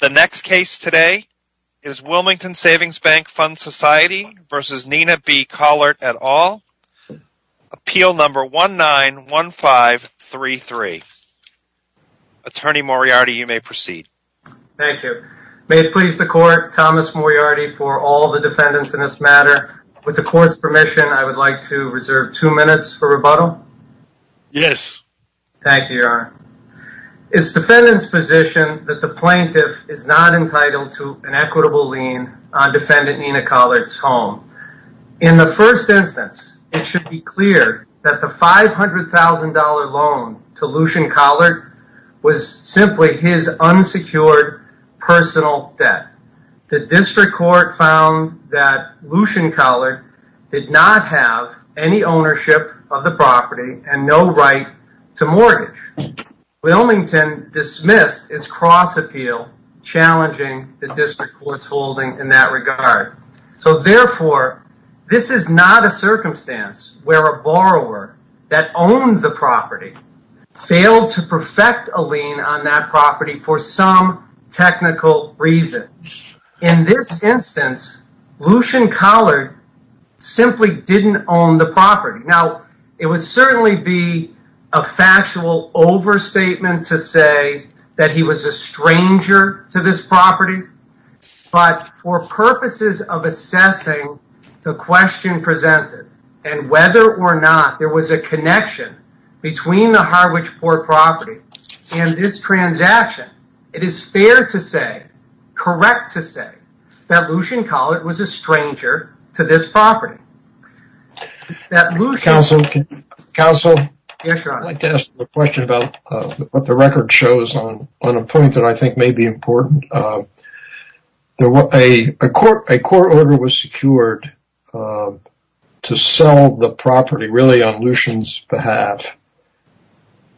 The next case today is Wilmington Savings Bank Fund Society v. Nina B. Collart et al. Appeal number 191533. Attorney Moriarty, you may proceed. Thank you. May it please the Court, Thomas Moriarty for all the defendants in this matter. With the Court's permission, I would like to reserve two minutes for rebuttal. Yes. Thank you, Your Honor. It's defendant's position that the plaintiff is not entitled to an equitable lien on defendant Nina Collart's home. In the first instance, it should be clear that the $500,000 loan to Lucian Collart was simply his unsecured personal debt. The district court found that Lucian Collart did not have any ownership of the property and no right to mortgage. Wilmington dismissed its cross-appeal, challenging the district court's holding in that regard. Therefore, this is not a circumstance where a borrower that owned the property failed to perfect a lien on that property for some technical reason. In this instance, Lucian Collart simply didn't own the property. Now, it would certainly be a factual overstatement to say that he was a stranger to this property, but for purposes of assessing the question presented and whether or not there was a connection between the Harwich Port property and this transaction, it is fair to say, correct to say, that Lucian Collart was a stranger to this property. Counsel, I'd like to ask a question about what the record shows on a point that I think may be important. A court order was secured to sell the property, really, on Lucian's behalf,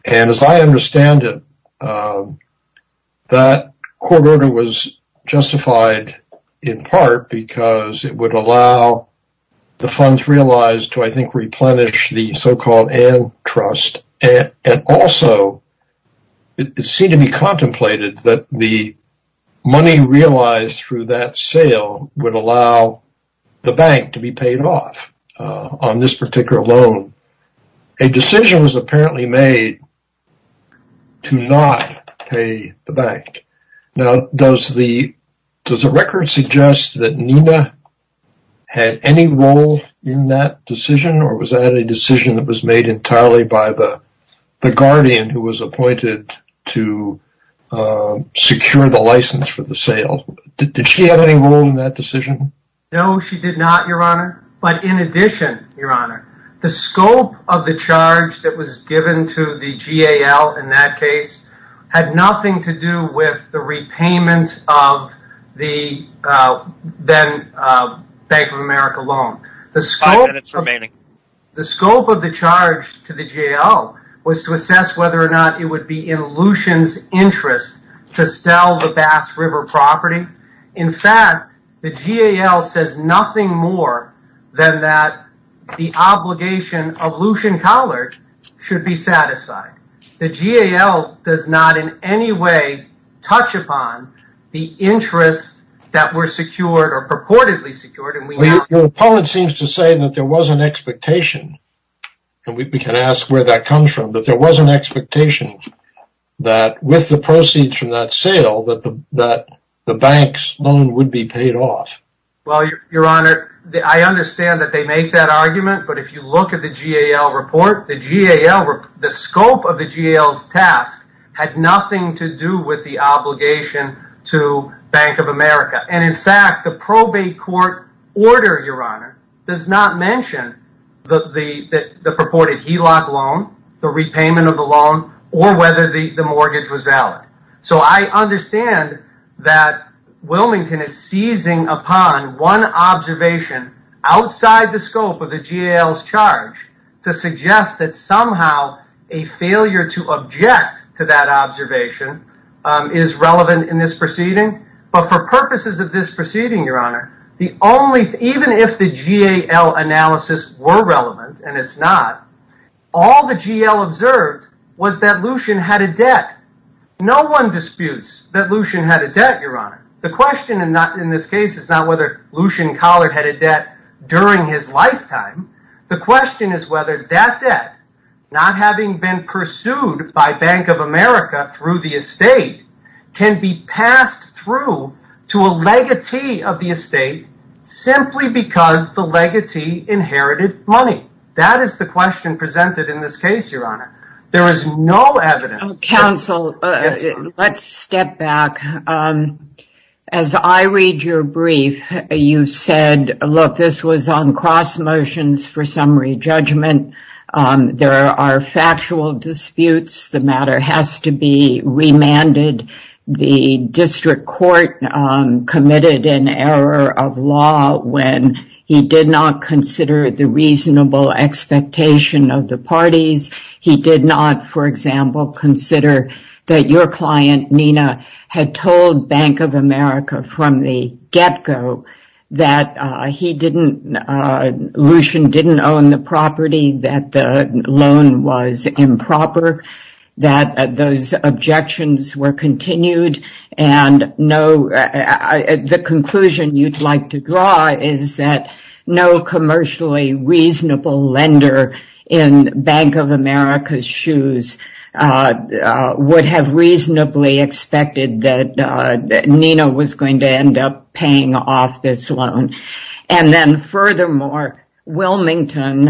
and as I understand it, that court order was justified in part because it would allow the funds realized to, I think, replenish the so-called antitrust, and also, it seemed to be contemplated that the money realized through that sale would allow the bank to be paid off on this particular loan. A decision was apparently made to not pay the bank. Now, does the record suggest that Nina had any role in that decision, or was that a decision that was made entirely by the guardian who was appointed to secure the license for the sale? Did she have any role in that decision? No, she did not, Your Honor. In addition, Your Honor, the scope of the charge that was given to the GAL in that case had nothing to do with the repayment of the Bank of America loan. The scope of the charge to the GAL was to assess whether or not it would be in Lucian's interest to sell the Bass River property. In fact, the GAL says nothing more than that the obligation of Lucian Collard should be satisfied. The GAL does not in any way touch upon the interests that were secured or purportedly secured. Your opponent seems to say that there was an expectation, and we can ask where that comes from, but there was an expectation that with the proceeds from that sale that the bank's loan would be paid off. I understand that they make that argument, but if you look at the GAL report, the scope of the GAL's task had nothing to do with the obligation to Bank of America. In fact, the probate court order does not mention the purported HELOC loan, the repayment of the loan, or whether the mortgage was valid. I understand that Wilmington is seizing upon one observation outside the scope of the GAL's charge to suggest that somehow a failure to object to that observation is relevant in this proceeding. But for purposes of this proceeding, Your Honor, even if the GAL analysis were relevant, and it's not, all the GAL observed was that Lucian had a debt. No one disputes that Lucian had a debt, Your Honor. The question in this case is not whether Lucian Collard had a debt during his lifetime. The question is whether that debt, not having been pursued by Bank of America through the estate, can be passed through to a legatee of the estate simply because the legatee inherited money. That is the question presented in this case, Your Honor. There is no evidence. Counsel, let's step back. As I read your brief, you said, look, this was on cross motions for summary judgment. There are factual disputes. The matter has to be remanded. The district court committed an error of law when he did not consider the reasonable expectation of the parties. He did not, for example, consider that your client, Nina, had told Bank of America from the get-go that he didn't, Lucian didn't own the property, that the loan was improper, that those objections were continued, and no, the conclusion you'd like to draw is that no commercially reasonable lender in Bank of America's shoes would have reasonably expected that Nina was going to end up paying off this loan. Then, furthermore, Wilmington,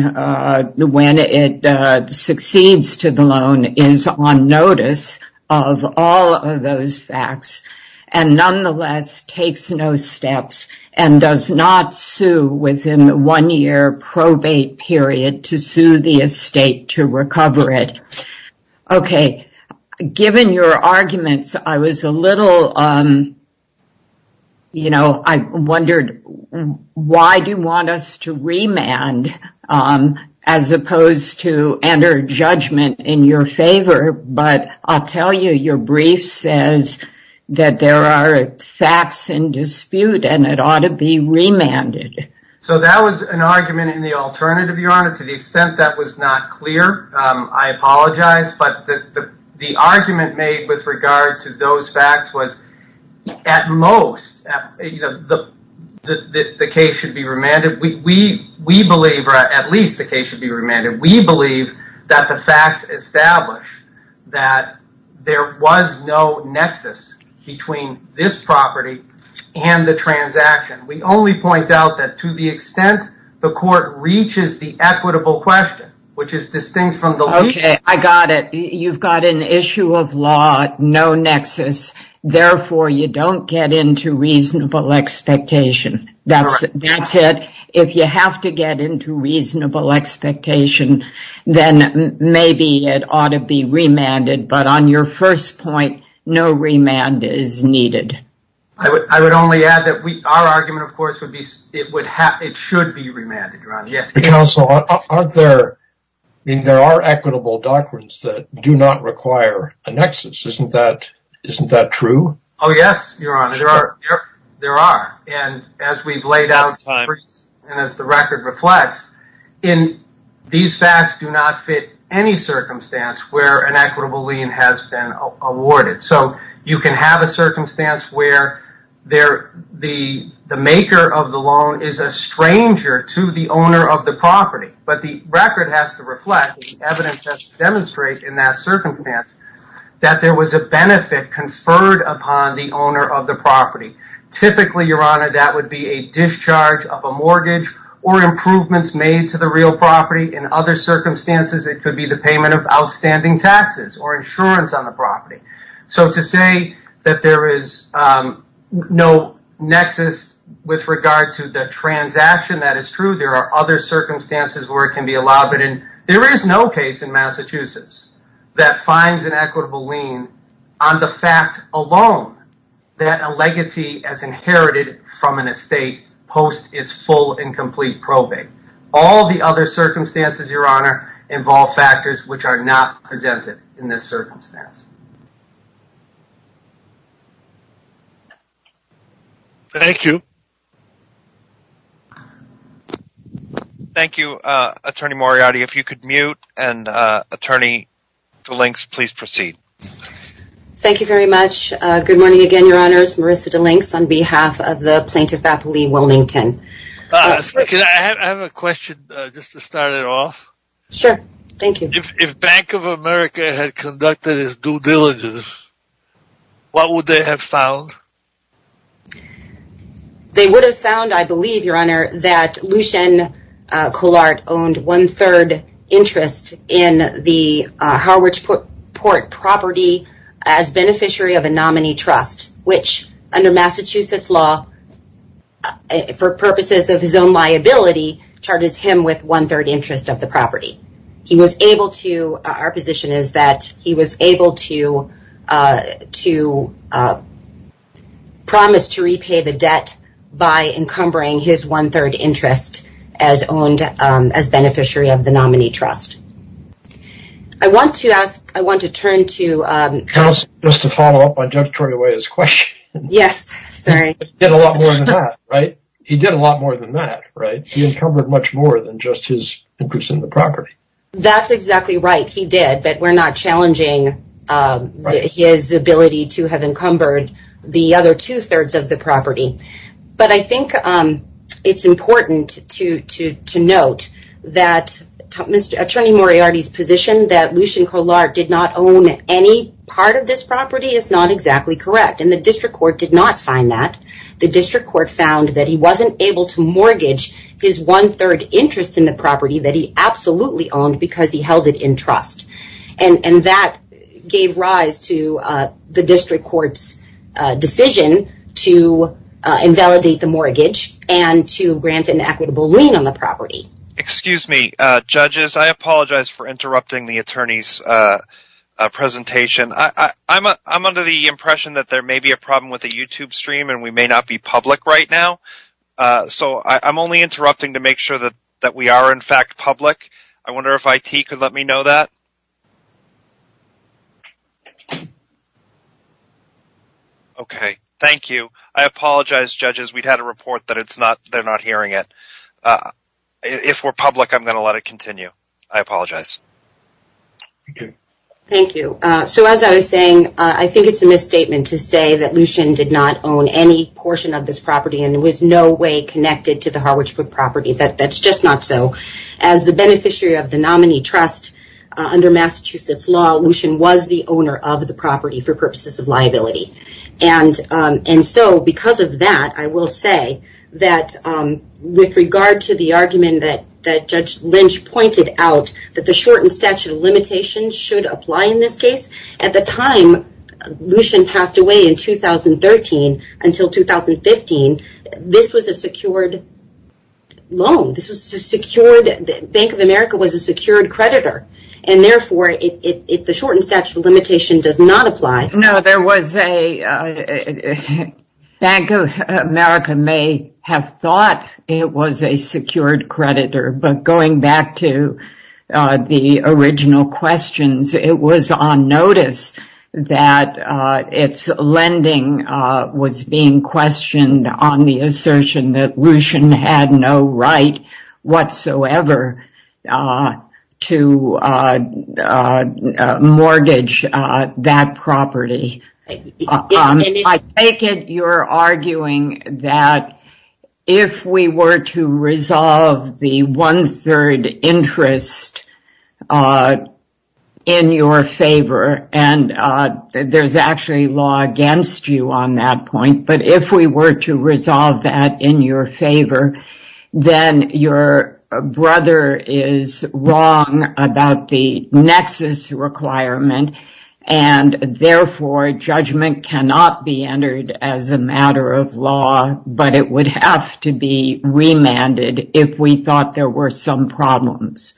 when it succeeds to the loan, is on notice of all of those facts and, nonetheless, takes no steps and does not sue within the one-year probate period to sue the estate to recover it. Okay, given your arguments, I was a little, you know, I wondered why do you want us to remand as opposed to enter judgment in your favor? But I'll tell you, your brief says that there are facts in dispute and it ought to be remanded. So that was an argument in the alternative, Your Honor, to the extent that was not clear. I apologize, but the argument made with regard to those facts was, at most, the case should be remanded. We believe, or at least the case should be remanded. We believe that the facts establish that there was no nexus between this property and the transaction. We only point out that to the extent the court reaches the equitable question, which is distinct from the lease. Okay, I got it. You've got an issue of law, no nexus, therefore you don't get into reasonable expectation. That's it. If you have to get into reasonable expectation, then maybe it ought to be remanded, but on your first point, no remand is needed. I would only add that our argument, of course, would be it should be remanded, Your Honor. Yes. But, counsel, aren't there, I mean, there are equitable doctrines that do not require a nexus. Isn't that true? Oh, yes, Your Honor. Sure. There are. As we've laid out, and as the record reflects, these facts do not fit any circumstance where an equitable lien has been awarded. You can have a circumstance where the maker of the loan is a stranger to the owner of the property, but the record has to reflect, the evidence has to demonstrate in that circumstance that there was a benefit conferred upon the owner of the property. Typically, Your Honor, that would be a discharge of a mortgage or improvements made to the real property. In other circumstances, it could be the payment of outstanding taxes or insurance on the property. So to say that there is no nexus with regard to the transaction, that is true. There are other circumstances where it can be allowed, but there is no case in Massachusetts that finds an equitable lien on the fact alone that a legatee has inherited from an estate post its full and complete probing. All the other circumstances, Your Honor, involve factors which are not presented in this circumstance. Thank you. Thank you, Attorney Moriarty. If you could mute and Attorney DeLinks, please proceed. Thank you very much. Good morning again, Your Honors. Marissa DeLinks on behalf of the Plaintiff Appellee Wilmington. I have a question just to start it off. Sure. Thank you. If Bank of America had conducted its due diligence, what would they have found? They would have found, I believe, Your Honor, that Lushen Collart owned one-third interest in the Harwich Port property as beneficiary of a nominee trust, which under Massachusetts law, for purposes of his own liability, charges him with one-third interest of the property. He was able to, our position is that he was able to promise to repay the debt by encumbering his one-third interest as owned as beneficiary of the nominee trust. I want to ask, I want to turn to- Counsel, just to follow up on Judge Toriawaya's question. Yes, sorry. He did a lot more than that, right? He did a lot more than that, right? He encumbered much more than just his interest in the property. That's exactly right. He did, but we're not challenging his ability to have encumbered the other two-thirds of the property. But I think it's important to note that Attorney Moriarty's position that Lushen Collart did not own any part of this property is not exactly correct, and the district court did not find that. The district court found that he wasn't able to mortgage his one-third interest in the property that he absolutely owned because he held it in trust, and that gave rise to the district court's decision to invalidate the mortgage and to grant an equitable lien on the property. Excuse me, judges, I apologize for interrupting the attorney's presentation. I'm under the impression that there may be a problem with the YouTube stream and we may not be public right now, so I'm only interrupting to make sure that we are, in fact, public. I wonder if IT could let me know that? Okay, thank you. I apologize, judges. We've had a report that they're not hearing it. If we're public, I'm going to let it continue. I apologize. Thank you. As I was saying, I think it's a misstatement to say that Lushen did not own any portion of this property and was no way connected to the Harwich Brook property. That's just not so. As the beneficiary of the nominee trust under Massachusetts law, Lushen was the owner of the property for purposes of liability. Because of that, I will say that with regard to the argument that Judge Lynch pointed out that the shortened statute of limitations should apply in this case, at the time Lushen passed away in 2013 until 2015, this was a secured loan. Bank of America was a secured creditor, and therefore, the shortened statute of limitations does not apply. No, there was a... Bank of America may have thought it was a secured creditor, but going back to the original questions, it was on notice that its lending was being questioned on the assertion that Lushen had no right whatsoever to mortgage that property. I take it you're arguing that if we were to resolve the one-third interest in your favor, and there's actually law against you on that point, but if we were to resolve that in your favor, judgment cannot be entered as a matter of law, but it would have to be remanded if we thought there were some problems.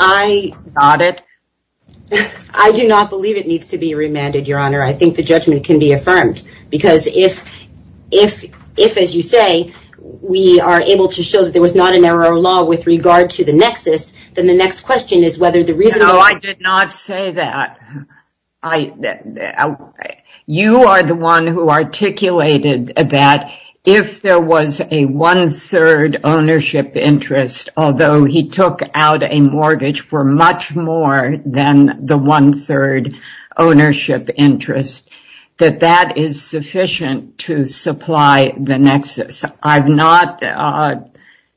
I do not believe it needs to be remanded, Your Honor. I think the judgment can be affirmed, because if, as you say, we are able to show that there was not an error of law with regard to the nexus, then the next question is whether the reason... I would say that you are the one who articulated that if there was a one-third ownership interest, although he took out a mortgage for much more than the one-third ownership interest, that that is sufficient to supply the nexus. I've not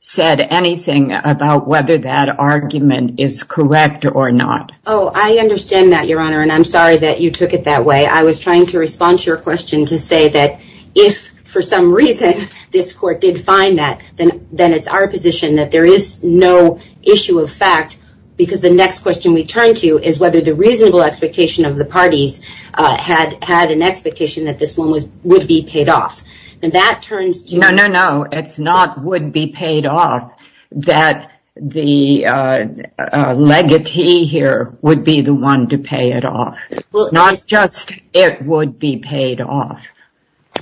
said anything about whether that argument is correct or not. I understand that, Your Honor, and I'm sorry that you took it that way. I was trying to respond to your question to say that if, for some reason, this court did find that, then it's our position that there is no issue of fact, because the next question we turn to is whether the reasonable expectation of the parties had an expectation that this loan would be paid off. That turns to... No, no, no. It's not would be paid off, that the legatee here would be the one to pay it off. Not just it would be paid off.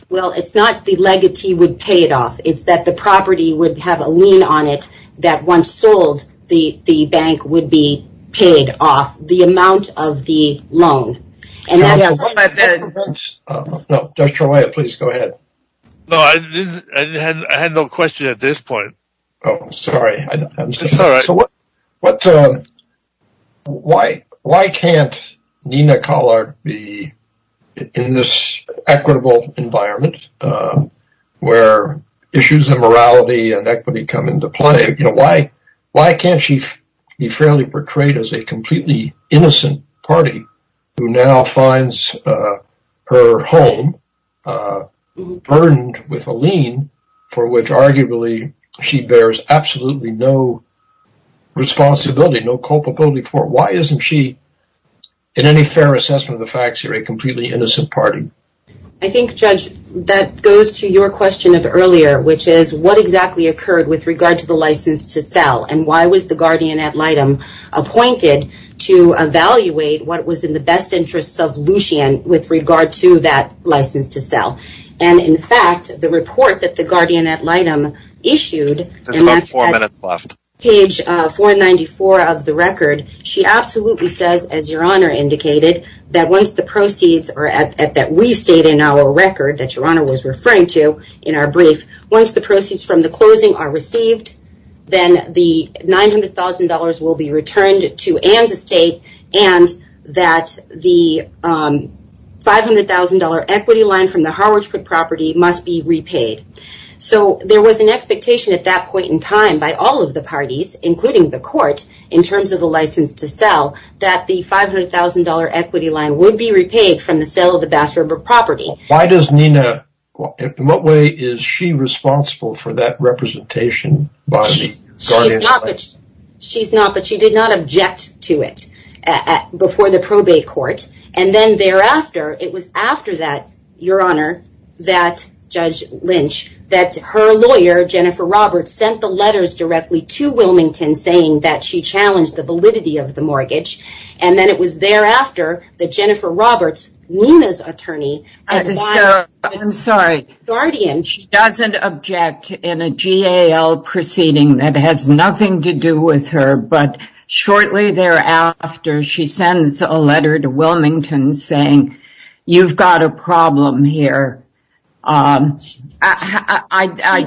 Well, it's not the legatee would pay it off. It's that the property would have a lien on it that, once sold, the bank would be paid off the amount of the loan, and that has... Can I just... No, Judge Trelaya, please go ahead. No, I had no question at this point. Oh, I'm sorry. It's all right. So, why can't Nina Collard be in this equitable environment where issues of morality and equity come into play? Why can't she be fairly portrayed as a completely innocent party who now finds her home, burdened with a lien for which, arguably, she bears absolutely no responsibility, no culpability for? Why isn't she, in any fair assessment of the facts here, a completely innocent party? I think, Judge, that goes to your question of earlier, which is what exactly occurred with regard to the license to sell, and why was the guardian ad litem appointed to evaluate what was in the best interests of Lucien with regard to that license to sell? And, in fact, the report that the guardian ad litem issued... That's about four minutes left. Page 494 of the record, she absolutely says, as Your Honor indicated, that once the proceeds are at... that we state in our record, that Your Honor was referring to in our brief, once the proceeds from the closing are received, then the $900,000 will be returned to Ann's estate, and that the $500,000 equity line from the Harwich Brook property must be repaid. So, there was an expectation at that point in time by all of the parties, including the court, in terms of the license to sell, that the $500,000 equity line would be repaid from the sale of the Bass River property. Why does Nina... In what way is she responsible for that representation by the guardian? She's not, but she did not object to it before the probate court. And then thereafter, it was after that, Your Honor, that Judge Lynch, that her lawyer, Jennifer Roberts, sent the letters directly to Wilmington saying that she challenged the validity of the mortgage. And then it was thereafter that Jennifer Roberts, Nina's attorney... I'm sorry. She doesn't object in a GAL proceeding that has nothing to do with her, but shortly thereafter, she sends a letter to Wilmington saying, you've got a problem here. I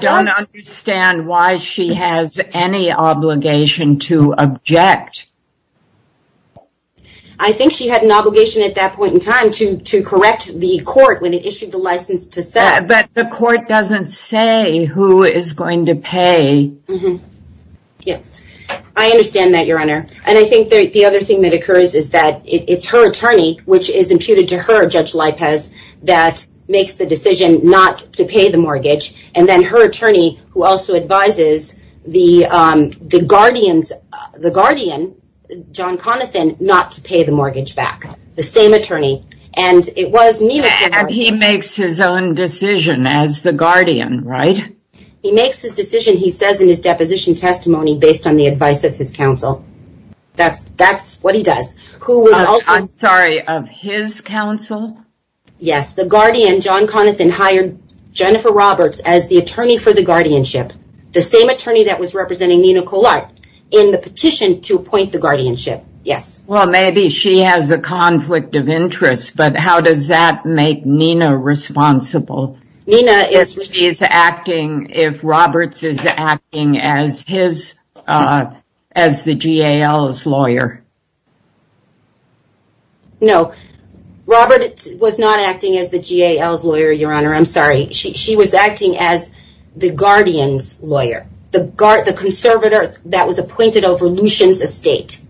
don't understand why she has any obligation to object. I think she had an obligation at that point in time to correct the court when it issued the license to sell. But the court doesn't say who is going to pay. I understand that, Your Honor. And I think the other thing that occurs is that it's her attorney, which is imputed to her, Judge Lipez, that makes the decision not to pay the mortgage. And then her attorney, who also advises the guardian, John Conathan, not to pay the mortgage back. The same attorney. And he makes his own decision as the guardian, right? He makes his decision, he says in his deposition testimony, based on the advice of his counsel. That's what he does. I'm sorry, of his counsel? Yes. The guardian, John Conathan, hired Jennifer Roberts as the attorney for the guardianship. The same attorney that was representing Nina Colart in the petition to appoint the guardianship. Yes. Maybe she has a conflict of interest, but how does that make Nina responsible? If Roberts is acting as the GAL's lawyer? No. Roberts was not acting as the GAL's lawyer, Your Honor. I'm sorry. She was acting as the guardian's lawyer. The conservator that was appointed over Lucian's estate.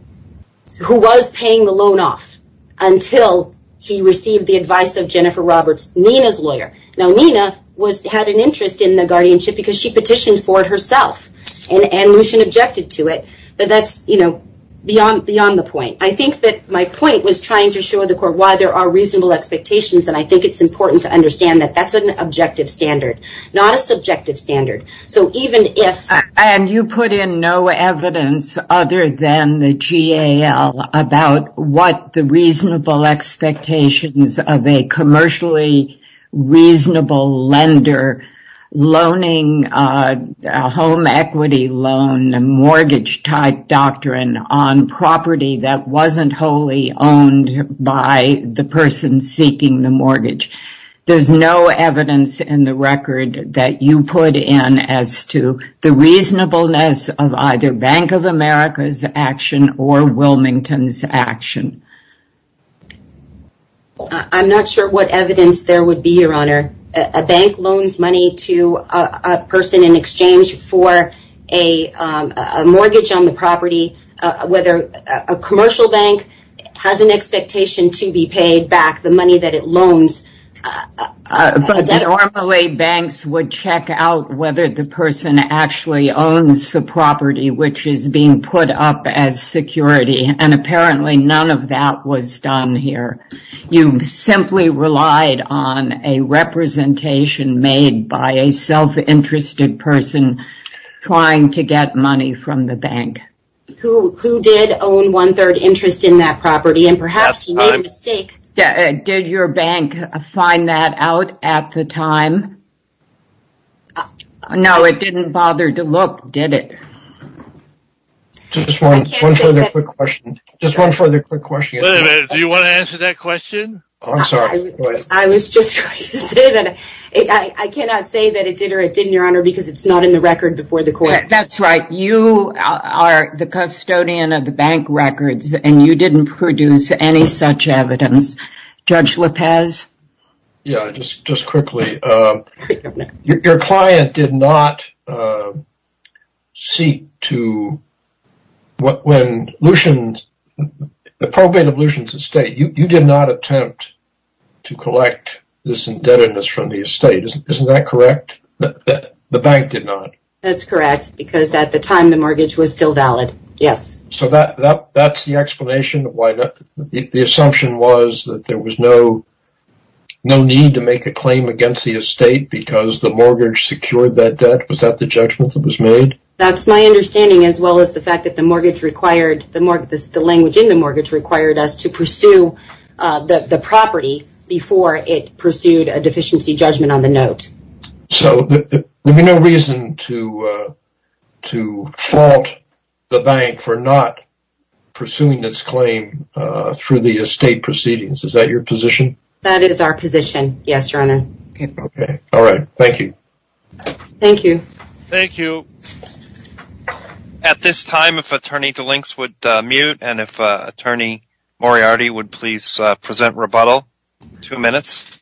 Who was paying the loan off until he received the advice of Jennifer Roberts, Nina's lawyer. Now, Nina had an interest in the guardianship because she petitioned for it herself. And Lucian objected to it. But that's, you know, beyond the point. I think that my point was trying to show the court why there are reasonable expectations. And I think it's important to understand that that's an objective standard, not a subjective standard. So even if. And you put in no evidence other than the GAL about what the reasonable expectations of a commercially reasonable lender, loaning a home equity loan, a mortgage type doctrine on property that wasn't wholly owned by the person seeking the mortgage. There's no evidence in the record that you put in as to the reasonableness of either Bank of America's action or Wilmington's action. I'm not sure what evidence there would be, Your Honor. A bank loans money to a person in exchange for a mortgage on the property, whether a But normally banks would check out whether the person actually owns the property, which is being put up as security. And apparently none of that was done here. You simply relied on a representation made by a self-interested person trying to get money from the bank. Who did own one third interest in that property. And perhaps you made a mistake. Did your bank find that out at the time? No, it didn't bother to look, did it? Just one further quick question. Just one further quick question. Wait a minute. Do you want to answer that question? I was just going to say that I cannot say that it did or it didn't, Your Honor, because it's not in the record before the court. That's right. You are the custodian of the bank records and you didn't produce any such evidence. Judge Lopez? Yeah, just just quickly. Your client did not seek to, when Lucian, the probate of Lucian's estate, you did not attempt to collect this indebtedness from the estate. Isn't that correct? The bank did not. That's correct, because at the time the mortgage was still valid. Yes. So that's the explanation of why the assumption was that there was no need to make a claim against the estate because the mortgage secured that debt. Was that the judgment that was made? That's my understanding, as well as the fact that the mortgage required the mortgage, the language in the mortgage required us to pursue the property before it pursued a deficiency judgment on the note. So there'd be no reason to fault the bank for not pursuing its claim through the estate proceedings. Is that your position? That is our position. Yes, Your Honor. Okay. All right. Thank you. Thank you. Thank you. At this time, if Attorney DeLinks would mute and if Attorney Moriarty would please present rebuttal. Two minutes.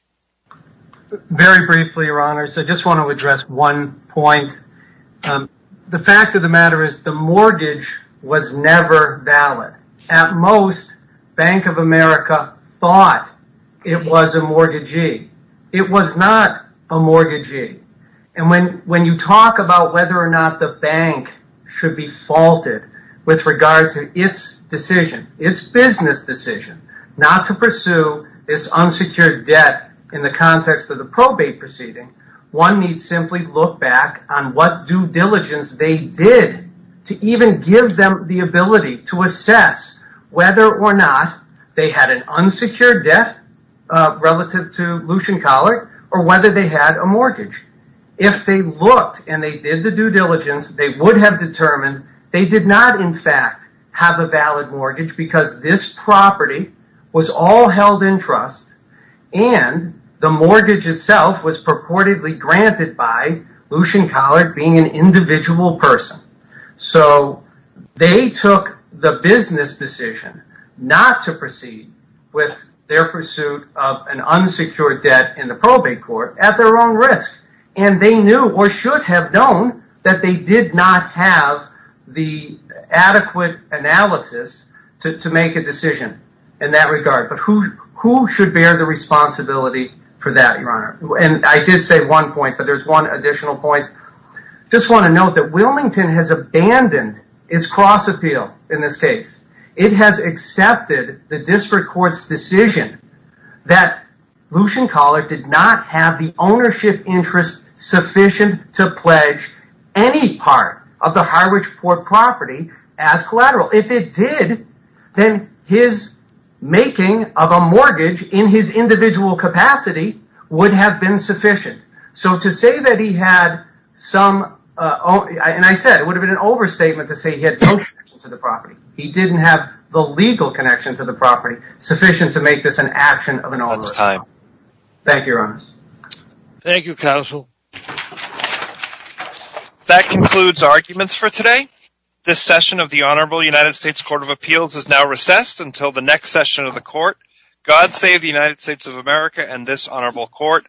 Very briefly, Your Honor, I just want to address one point. The fact of the matter is the mortgage was never valid. At most, Bank of America thought it was a mortgagee. It was not a mortgagee. And when you talk about whether or not the bank should be faulted with regard to its decision, its business decision, not to pursue this unsecured debt in the context of the probate proceeding, one needs simply look back on what due diligence they did to even give them the ability to assess whether or not they had an unsecured debt relative to Lucien Collard or whether they had a mortgage. If they looked and they did the due diligence, they would have determined they did not, in because this property was all held in trust and the mortgage itself was purportedly granted by Lucien Collard being an individual person. So they took the business decision not to proceed with their pursuit of an unsecured debt in the probate court at their own risk. And they knew or should have known that they did not have the adequate analysis to make a decision in that regard. But who should bear the responsibility for that, Your Honor? And I did say one point, but there's one additional point. Just want to note that Wilmington has abandoned its cross-appeal in this case. It has accepted the district court's decision that Lucien Collard did not have the ownership interest sufficient to pledge any part of the Harwich Port property as collateral. If it did, then his making of a mortgage in his individual capacity would have been sufficient. So to say that he had some, and I said it would have been an overstatement to say he had no connection to the property. He didn't have the legal connection to the property sufficient to make this an action of an overstatement. That's time. Thank you, Your Honor. Thank you, Counsel. That concludes arguments for today. This session of the Honorable United States Court of Appeals is now recessed until the next session of the court. God save the United States of America and this honorable court.